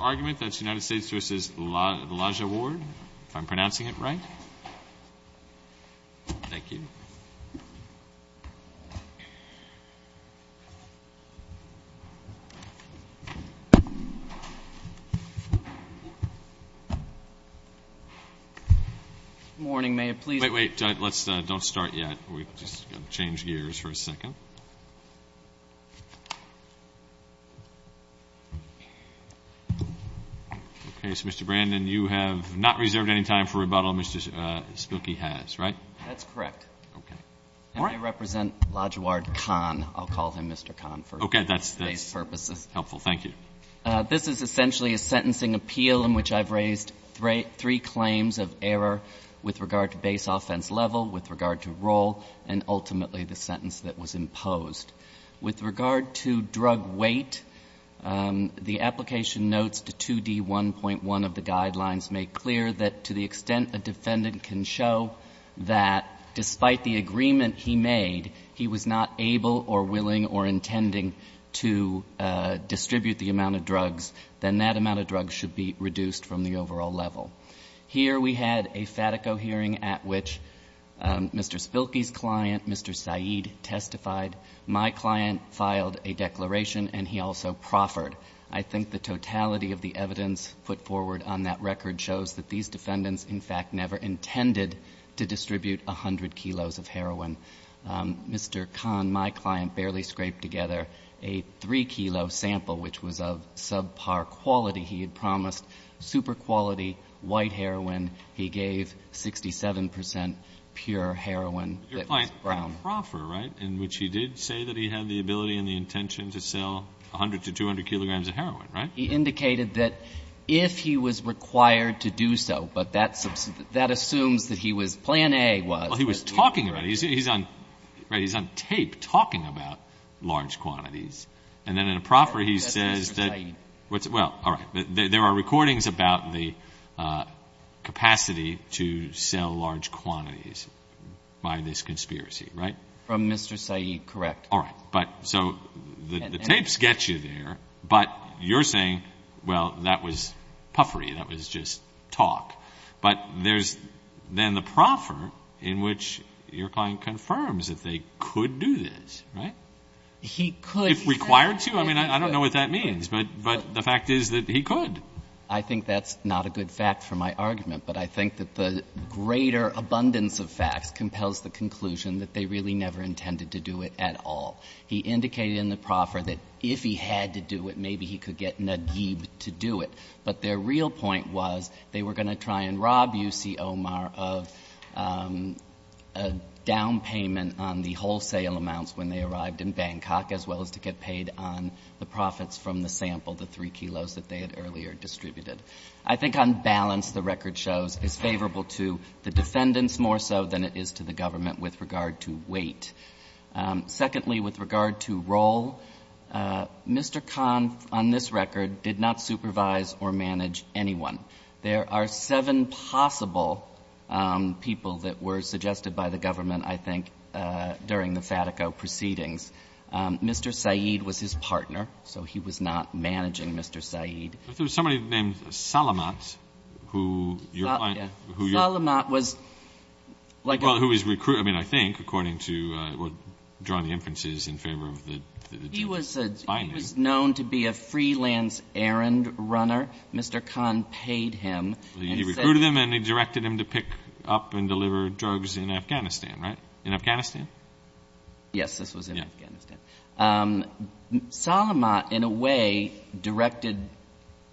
Argument, that's United States v. Elijah Ward, if I'm pronouncing it right. Thank you. Good morning, may I please Wait, wait, let's don't start yet. We've just changed gears for a second. Mr. Brandon, you have not reserved any time for rebuttal. Mr. Spooky has, right? That's correct. Okay. I represent Lajaward Khan. I'll call him Mr. Khan for space purposes. Okay, that's helpful. Thank you. This is essentially a sentencing appeal in which I've raised three claims of error with regard to base offense level, with regard to role, and ultimately the sentence that was imposed. With regard to drug weight, the application notes to 2D1.1 of the guidelines make clear that to the extent a defendant can show that despite the agreement he made, he was not able or willing or intending to distribute the amount of drugs, then that amount of drugs should be reduced from the overall level. Here we had a FATICO hearing at which Mr. Spooky's client, Mr. Saeed, testified. My client filed a declaration and he also proffered. I think the totality of the evidence put forward on that record shows that these defendants, in fact, never intended to distribute 100 kilos of heroin. Mr. Khan, my client, barely scraped together a 3-kilo sample, which was of subpar quality. He had promised super quality white heroin. He gave 67 percent pure heroin that was brown. Your client proffered, right, in which he did say that he had the ability and the intention to sell 100 to 200 kilograms of heroin, right? He indicated that if he was required to do so, but that assumes that he was, plan A was. Well, he was talking about it. He's on, right, he's on tape talking about large quantities. And then in a proffer, he says that, well, all right, there are recordings about the capacity to sell large quantities by this conspiracy, right? From Mr. Saeed, correct. All right. But so the tapes get you there, but you're saying, well, that was puffery, that was just talk. But there's then the proffer in which your client confirms that they could do this, right? He could. If required to. I mean, I don't know what that means, but the fact is that he could. I think that's not a good fact for my argument, but I think that the greater abundance of facts compels the conclusion that they really never intended to do it at all. He indicated in the proffer that if he had to do it, maybe he could get Naguib to do it. But their real point was they were going to try and rob U.C. Omar of a down payment on the wholesale amounts when they arrived in Bangkok, as well as to get paid on the profits from the sample, the 3 kilos that they had earlier distributed. I think on balance, the record shows it's favorable to the defendants more so than it is to the government with regard to weight. Secondly, with regard to role, Mr. Khan, on this record, did not supervise or manage anyone. There are seven possible people that were suggested by the government, I think, during the Fatico proceedings. Mr. Saeed was his partner, so he was not managing Mr. Saeed. But there was somebody named Salamat who your client ---- Yeah. Salamat was like a ---- Well, who was recruited, I mean, I think, according to what drawn the inferences in favor of the ---- He was known to be a freelance errand runner. Mr. Khan paid him and said ---- He recruited him and he directed him to pick up and deliver drugs in Afghanistan, right? In Afghanistan? Yes, this was in Afghanistan. Yeah. Salamat, in a way, directed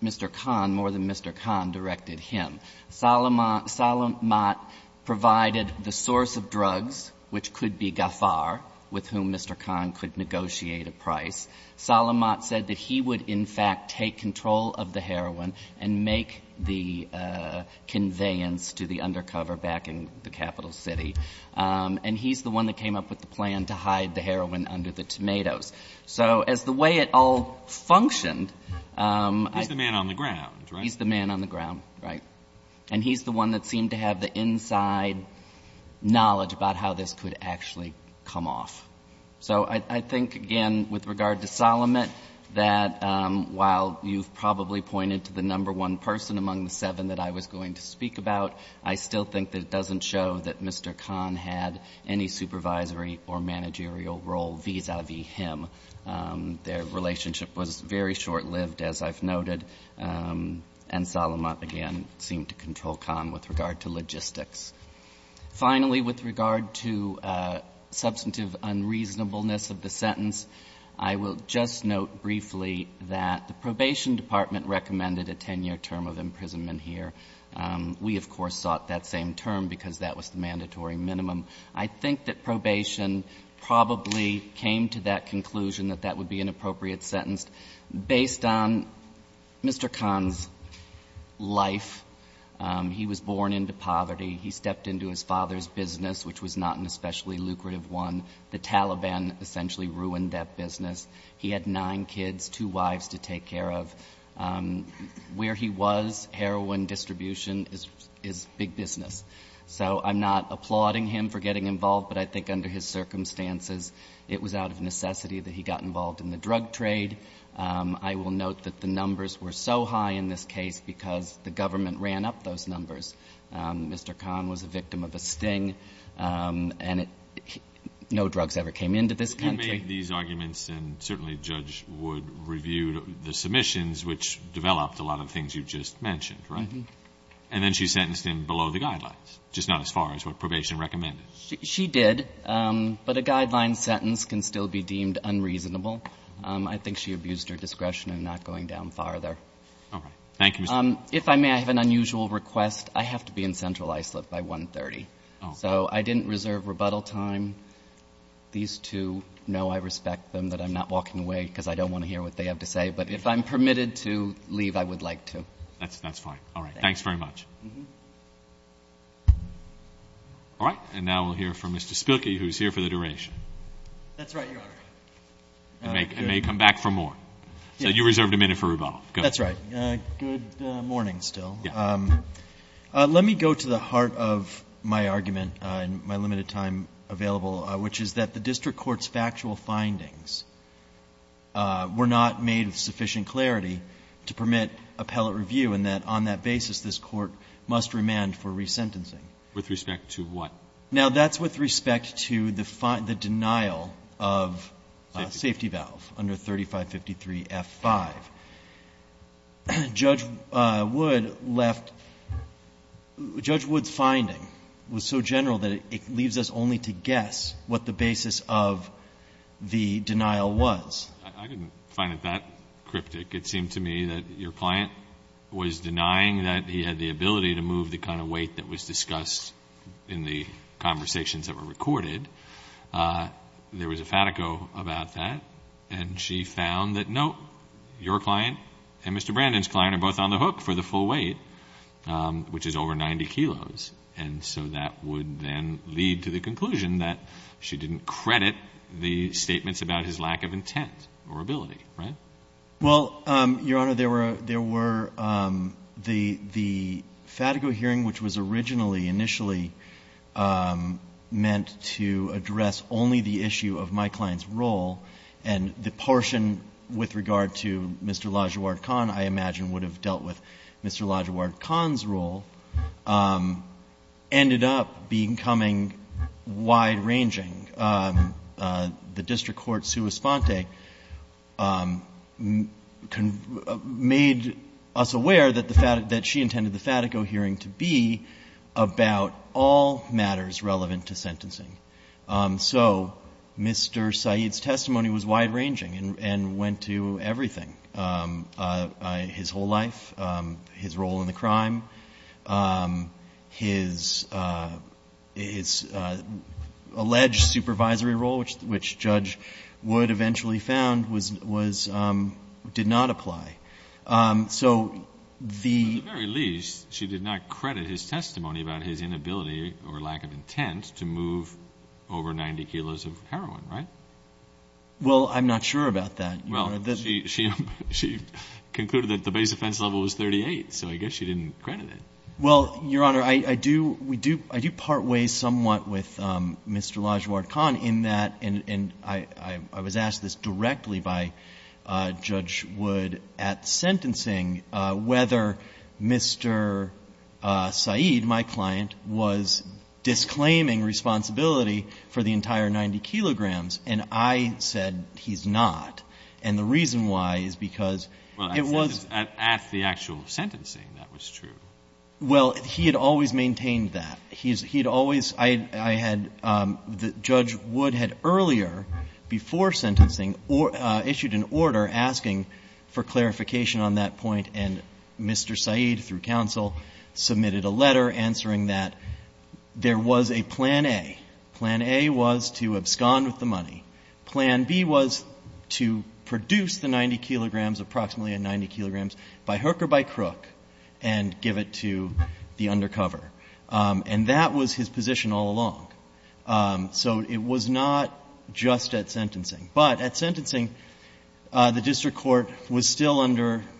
Mr. Khan more than Mr. Khan directed him. Salamat provided the source of drugs, which could be Gaffar, with whom Mr. Khan could negotiate a price. Salamat said that he would, in fact, take control of the heroin and make the conveyance to the undercover back in the capital city. And he's the one that came up with the plan to hide the heroin under the tomatoes. So as the way it all functioned ---- He's the man on the ground, right? And he's the one that seemed to have the inside knowledge about how this could actually come off. So I think, again, with regard to Salamat, that while you've probably pointed to the number one person among the seven that I was going to speak about, I still think that it doesn't show that Mr. Khan had any supervisory or managerial role vis-a-vis him. Their relationship was very short-lived, as I've noted. And Salamat, again, seemed to control Khan with regard to logistics. Finally, with regard to substantive unreasonableness of the sentence, I will just note briefly that the Probation Department recommended a 10-year term of imprisonment here. We, of course, sought that same term because that was the mandatory minimum. I think that Probation probably came to that conclusion that that would be an appropriate sentence. Based on Mr. Khan's life, he was born into poverty. He stepped into his father's business, which was not an especially lucrative one. The Taliban essentially ruined that business. He had nine kids, two wives to take care of. Where he was, heroin distribution is big business. So I'm not applauding him for getting involved, but I think under his circumstances, it was out of necessity that he got involved in the drug trade. I will note that the numbers were so high in this case because the government ran up those numbers. Mr. Khan was a victim of a sting, and no drugs ever came into this country. And you made these arguments, and certainly Judge Wood reviewed the submissions, which developed a lot of things you've just mentioned, right? Mm-hmm. And then she sentenced him below the guidelines, just not as far as what Probation recommended. She did. But a guideline sentence can still be deemed unreasonable. I think she abused her discretion in not going down farther. All right. Thank you, Mr. If I may, I have an unusual request. I have to be in Central Iceland by 1.30. Oh. So I didn't reserve rebuttal time. These two know I respect them, that I'm not walking away because I don't want to hear what they have to say. But if I'm permitted to leave, I would like to. That's fine. All right. Thanks very much. Mm-hmm. All right. And now we'll hear from Mr. Spilkey, who's here for the duration. That's right, Your Honor. And may come back for more. So you reserved a minute for rebuttal. Go ahead. That's right. Good morning, still. Yeah. Let me go to the heart of my argument in my limited time available, which is that the district court's factual findings were not made with sufficient clarity to permit appellate review, and that on that basis, this court must remand for resentencing. With respect to what? Now, that's with respect to the denial of safety valve under 3553F5. Judge Wood left – Judge Wood's finding was so general that it leaves us only to guess what the basis of the denial was. I didn't find it that cryptic. It seemed to me that your client was denying that he had the ability to move the kind of weight that was discussed in the conversations that were recorded. There was a fatico about that, and she found that, no, your client and Mr. Brandon's client are both on the hook for the full weight, which is over 90 kilos. And so that would then lead to the conclusion that she didn't credit the statements about his lack of intent or ability, right? Well, Your Honor, there were the fatico hearing, which was originally, initially meant to address only the issue of my client's role, and the portion with regard to Mr. Lajuard Khan, I imagine, would have dealt with Mr. Lajuard Khan's role, ended up becoming wide-ranging. The district court, Sua Sponte, made us aware that the fatico – that she intended the fatico hearing to be about all matters relevant to sentencing. So Mr. Said's testimony was wide-ranging and went to everything, his whole life, his role in the crime, his alleged supervisory role, which Judge Wood eventually found did not apply. So the – At the very least, she did not credit his testimony about his inability or lack of intent to move over 90 kilos of heroin, right? Well, I'm not sure about that. Well, she concluded that the base offense level was 38, so I guess she didn't credit it. Well, Your Honor, I do part ways somewhat with Mr. Lajuard Khan in that – and I was asked this directly by Judge Wood at sentencing whether Mr. Said, my client, was because it was – Well, at the actual sentencing, that was true. Well, he had always maintained that. He had always – I had – Judge Wood had earlier, before sentencing, issued an order asking for clarification on that point, and Mr. Said, through counsel, submitted a letter answering that there was a plan A. Plan A was to abscond with the money. Plan B was to produce the 90 kilograms, approximately 90 kilograms, by hook or by crook and give it to the undercover. And that was his position all along. So it was not just at sentencing. But at sentencing, the district court was still under –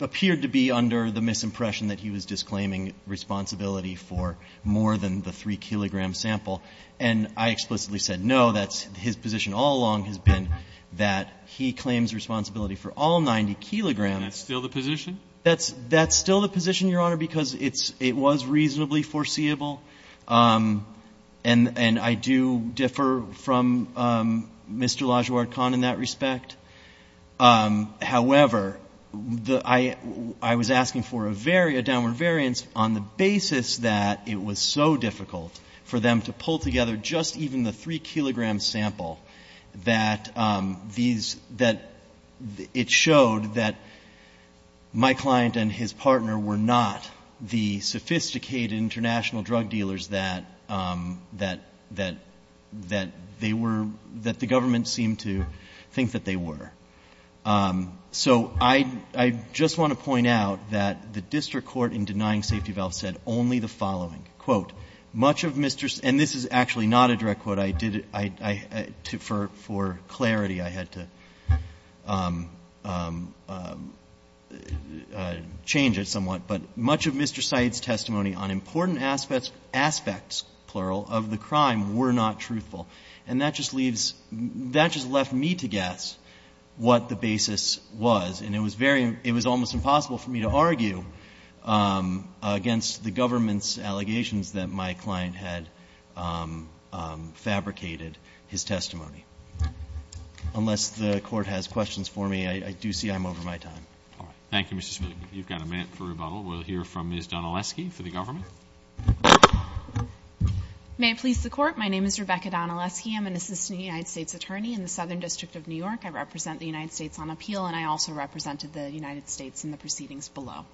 appeared to be under the misimpression that he was disclaiming responsibility for more than the 3-kilogram sample. And I explicitly said, no, that's – his position all along has been that he claims responsibility for all 90 kilograms. Is that still the position? That's still the position, Your Honor, because it's – it was reasonably foreseeable. And I do differ from Mr. Lajuard Khan in that respect. However, the – I was asking for a very – a downward variance on the basis that it was so difficult for them to pull together just even the 3-kilogram sample that these – that it showed that my client and his partner were not the sophisticated international drug dealers that – that they were – that the government seemed to think that they were. So I just want to point out that the district court in denying safety valve said only the following. Quote, much of Mr. – and this is actually not a direct quote. I did – I – for clarity, I had to change it somewhat. But much of Mr. Syed's testimony on important aspects, plural, of the crime were not truthful. And that just leaves – that just left me to guess what the basis was. And it was very – it was almost impossible for me to argue against the government's allegations that my client had fabricated his testimony. Unless the Court has questions for me, I do see I'm over my time. All right. Thank you, Mr. Smith. You've got a minute for rebuttal. We'll hear from Ms. Donaleski for the government. May it please the Court. My name is Rebecca Donaleski. I'm an assistant United States attorney in the Southern District of New York. I represent the United States on appeal, and I also represented the United States in the proceedings below.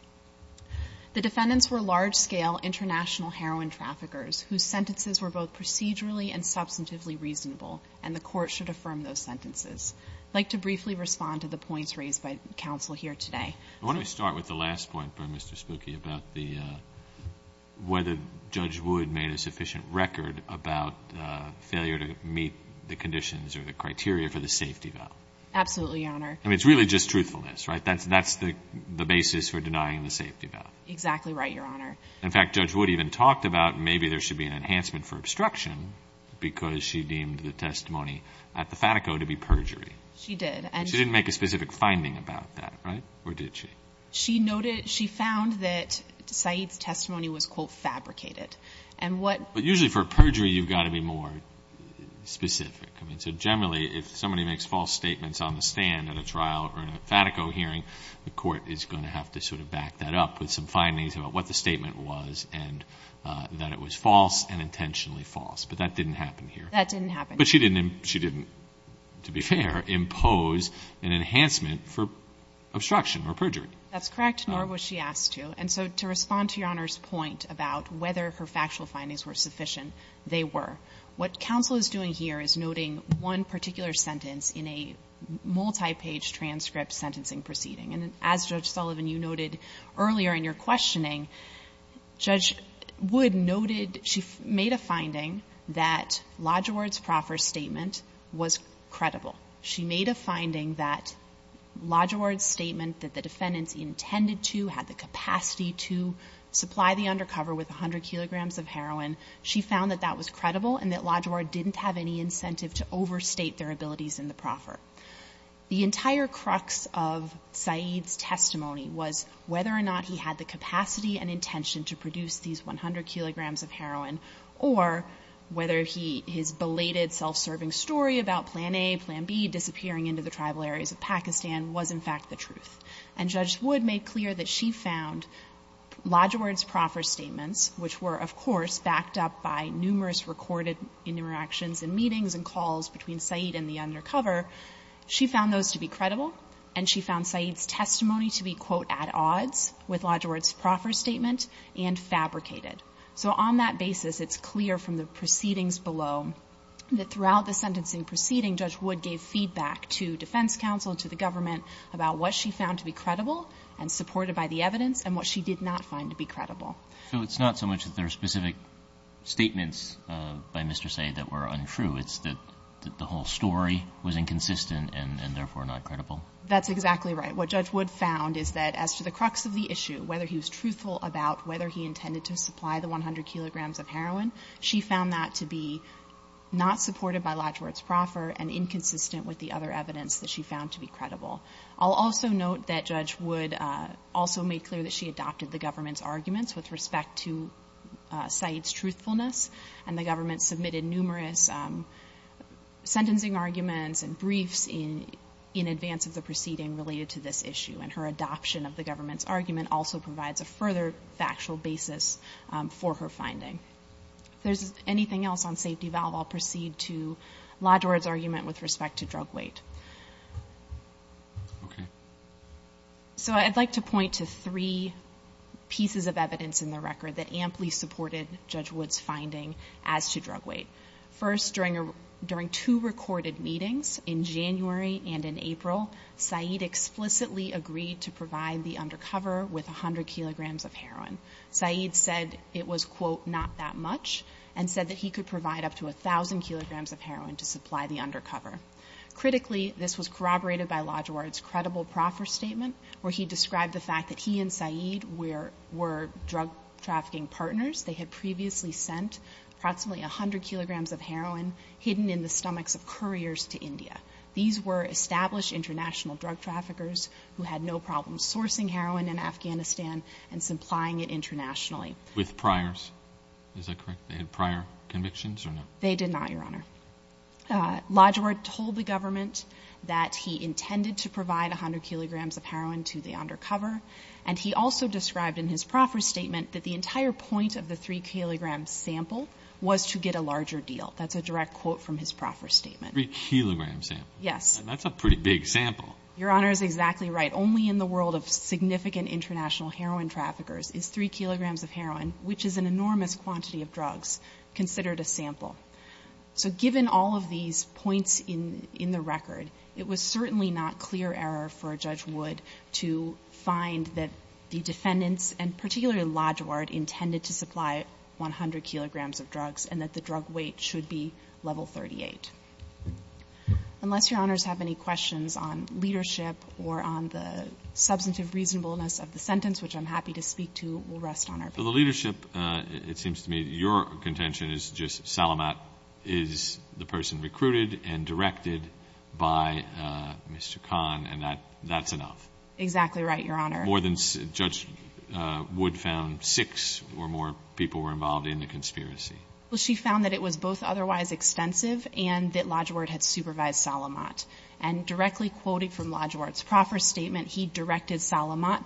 The defendants were large-scale international heroin traffickers whose sentences were both procedurally and substantively reasonable, and the Court should affirm those sentences. I'd like to briefly respond to the points raised by counsel here today. I want to start with the last point by Mr. Spooky about the – whether Judge Wood made a sufficient record about failure to meet the conditions or the criteria for the safety valve. Absolutely, Your Honor. I mean, it's really just truthfulness, right? That's the basis for denying the safety valve. Exactly right, Your Honor. In fact, Judge Wood even talked about maybe there should be an enhancement for obstruction because she deemed the testimony at the Fatico to be perjury. She did. She didn't make a specific finding about that, right? Or did she? She noted – she found that Said's testimony was, quote, fabricated. And what – But usually for a perjury, you've got to be more specific. I mean, so generally, if somebody makes false statements on the stand at a trial or in a Fatico hearing, the Court is going to have to sort of back that up with some findings about what the statement was and that it was false and intentionally false. But that didn't happen here. That didn't happen. But she didn't – she didn't, to be fair, impose an enhancement for obstruction or perjury. That's correct, nor was she asked to. And so to respond to Your Honor's point about whether her factual findings were sufficient, they were. What counsel is doing here is noting one particular sentence in a multi-page transcript sentencing proceeding. And as Judge Sullivan, you noted earlier in your questioning, Judge Wood noted she made a finding that Lodgeward's proffer statement was credible. She made a finding that Lodgeward's statement that the defendants intended to, had the capacity to supply the undercover with 100 kilograms of heroin, she found that that was credible and that Lodgeward didn't have any incentive to overstate their abilities in the proffer. The entire crux of Saeed's testimony was whether or not he had the capacity and intention to produce these 100 kilograms of heroin or whether he – his belated self-serving story about Plan A, Plan B disappearing into the tribal areas of Pakistan was, in fact, the truth. And Judge Wood made clear that she found Lodgeward's proffer statements, which were, of course, backed up by numerous recorded interactions and meetings and calls between Saeed and the undercover, she found those to be credible and she found Saeed's testimony to be, quote, at odds with Lodgeward's proffer statement and fabricated. So on that basis, it's clear from the proceedings below that throughout the sentencing proceeding, Judge Wood gave feedback to defense counsel and to the government about what she found to be credible and supported by the evidence and what she did not find to be credible. So it's not so much that there are specific statements by Mr. Saeed that were untrue. It's that the whole story was inconsistent and therefore not credible. That's exactly right. What Judge Wood found is that as to the crux of the issue, whether he was truthful about whether he intended to supply the 100 kilograms of heroin, she found that to be not supported by Lodgeward's proffer and inconsistent with the other evidence that she found to be credible. I'll also note that Judge Wood also made clear that she adopted the government's argument with respect to Saeed's truthfulness and the government submitted numerous sentencing arguments and briefs in advance of the proceeding related to this issue. And her adoption of the government's argument also provides a further factual basis for her finding. If there's anything else on safety valve, I'll proceed to Lodgeward's argument with respect to drug weight. Okay. So I'd like to point to three pieces of evidence in the record that amply supported Judge Wood's finding as to drug weight. First, during two recorded meetings in January and in April, Saeed explicitly agreed to provide the undercover with 100 kilograms of heroin. Saeed said it was, quote, not that much and said that he could provide up to 1,000 kilograms of heroin to supply the undercover. Critically, this was corroborated by Lodgeward's credible proffer statement where he described the fact that he and Saeed were drug trafficking partners. They had previously sent approximately 100 kilograms of heroin hidden in the stomachs of couriers to India. These were established international drug traffickers who had no problem sourcing heroin in Afghanistan and supplying it internationally. With priors. Is that correct? They had prior convictions or no? They did not, Your Honor. Lodgeward told the government that he intended to provide 100 kilograms of heroin to the undercover. And he also described in his proffer statement that the entire point of the 3-kilogram sample was to get a larger deal. That's a direct quote from his proffer statement. 3-kilogram sample? Yes. That's a pretty big sample. Your Honor is exactly right. Only in the world of significant international heroin traffickers is 3 kilograms of heroin, which is an enormous quantity of drugs, considered a sample. So given all of these points in the record, it was certainly not clear error for a judge Wood to find that the defendants, and particularly Lodgeward, intended to supply 100 kilograms of drugs and that the drug weight should be level 38. Unless Your Honors have any questions on leadership or on the substantive reasonableness of the sentence, which I'm happy to speak to, we'll rest on our feet. The leadership, it seems to me, your contention is just Salamat is the person recruited and directed by Mr. Khan and that's enough. Exactly right, Your Honor. More than, Judge Wood found six or more people were involved in the conspiracy. Well, she found that it was both otherwise expensive and that Lodgeward had supervised Salamat. And directly quoted from Lodgeward's proffer statement, he directed Salamat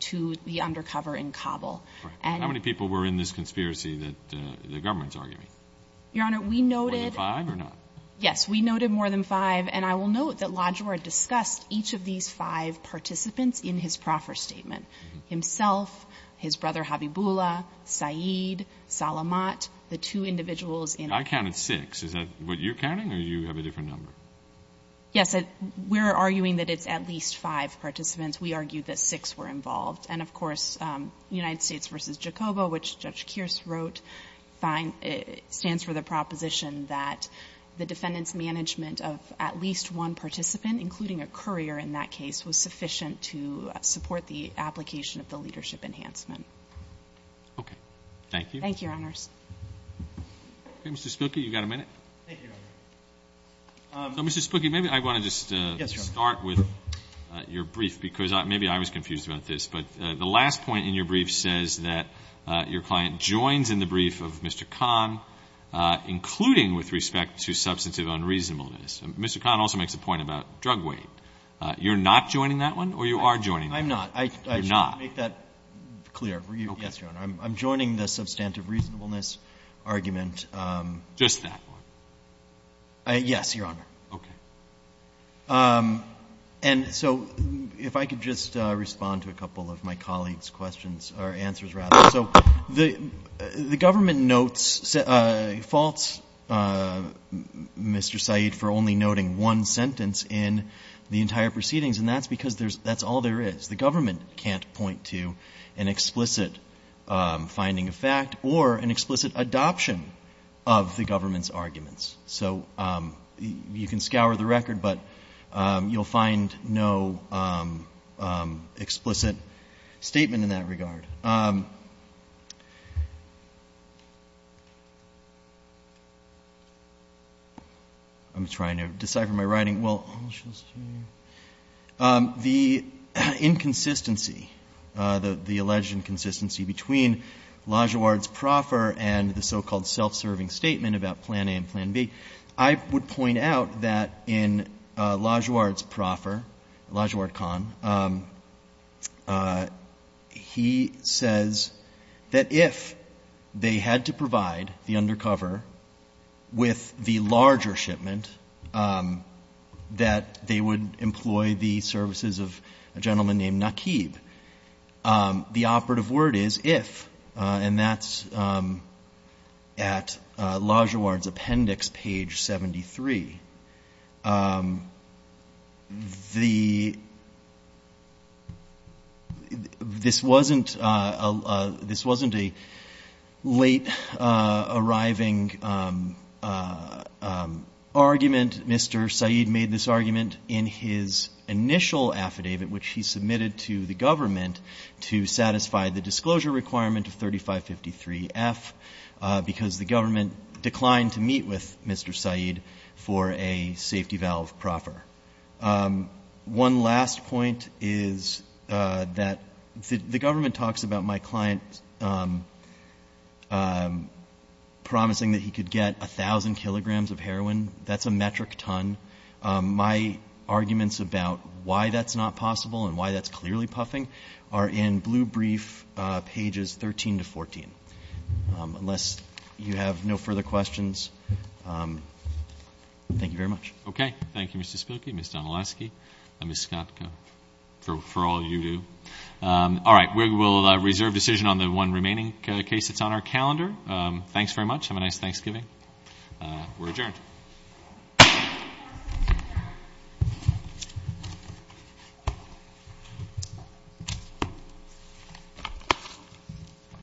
to the undercover in Kabul. Right. How many people were in this conspiracy that the government's arguing? Your Honor, we noted. More than five or not? Yes. We noted more than five. And I will note that Lodgeward discussed each of these five participants in his proffer statement. Himself, his brother Habibullah, Saeed, Salamat, the two individuals in. I counted six. Is that what you're counting or do you have a different number? Yes. We're arguing that it's at least five participants. We argue that six were involved. And, of course, United States v. Jacobo, which Judge Kearse wrote, stands for the proposition that the defendant's management of at least one participant, including a courier in that case, was sufficient to support the application of the leadership enhancement. Okay. Thank you. Thank you, Your Honors. Okay. Mr. Spooky, you've got a minute. Thank you, Your Honor. So, Mr. Spooky, maybe I want to just start with your brief, because maybe I was confused about this. But the last point in your brief says that your client joins in the brief of Mr. Kahn, including with respect to substantive unreasonableness. Mr. Kahn also makes a point about drug weight. You're not joining that one or you are joining that one? I'm not. You're not. I should make that clear. Yes, Your Honor. I'm joining the substantive reasonableness argument. Just that one? Yes, Your Honor. Okay. And so if I could just respond to a couple of my colleagues' questions or answers, rather. So the government notes faults, Mr. Syed, for only noting one sentence in the entire proceedings, and that's because that's all there is. The government can't point to an explicit finding of fact or an explicit adoption of the government's arguments. So you can scour the record, but you'll find no explicit statement in that regard. I'm trying to decipher my writing. Well, let's just see. The inconsistency, the alleged inconsistency, between Lajeward's proffer and the so-called self-serving statement about Plan A and Plan B. I would point out that in Lajeward's proffer, Lajeward Conn, he says that if they had to provide the undercover with the larger shipment, that they would employ the services of a gentleman named Nakib. The operative word is if, and that's at Lajeward's appendix, page 73. This wasn't a late arriving argument. Mr. Syed made this argument in his initial affidavit, which he submitted to the government to satisfy the disclosure requirement of 3553F, because the government declined to meet with Mr. Syed for a safety valve proffer. One last point is that the government talks about my client promising that he could get 1,000 kilograms of heroin. That's a metric ton. My arguments about why that's not possible and why that's clearly puffing are in blue brief pages 13 to 14. Unless you have no further questions, thank you very much. Okay. Thank you, Mr. Spilkey, Ms. Donelaski, and Ms. Scott, for all you do. All right. We will reserve decision on the one remaining case that's on our calendar. Thanks very much. Have a nice Thanksgiving. We're adjourned.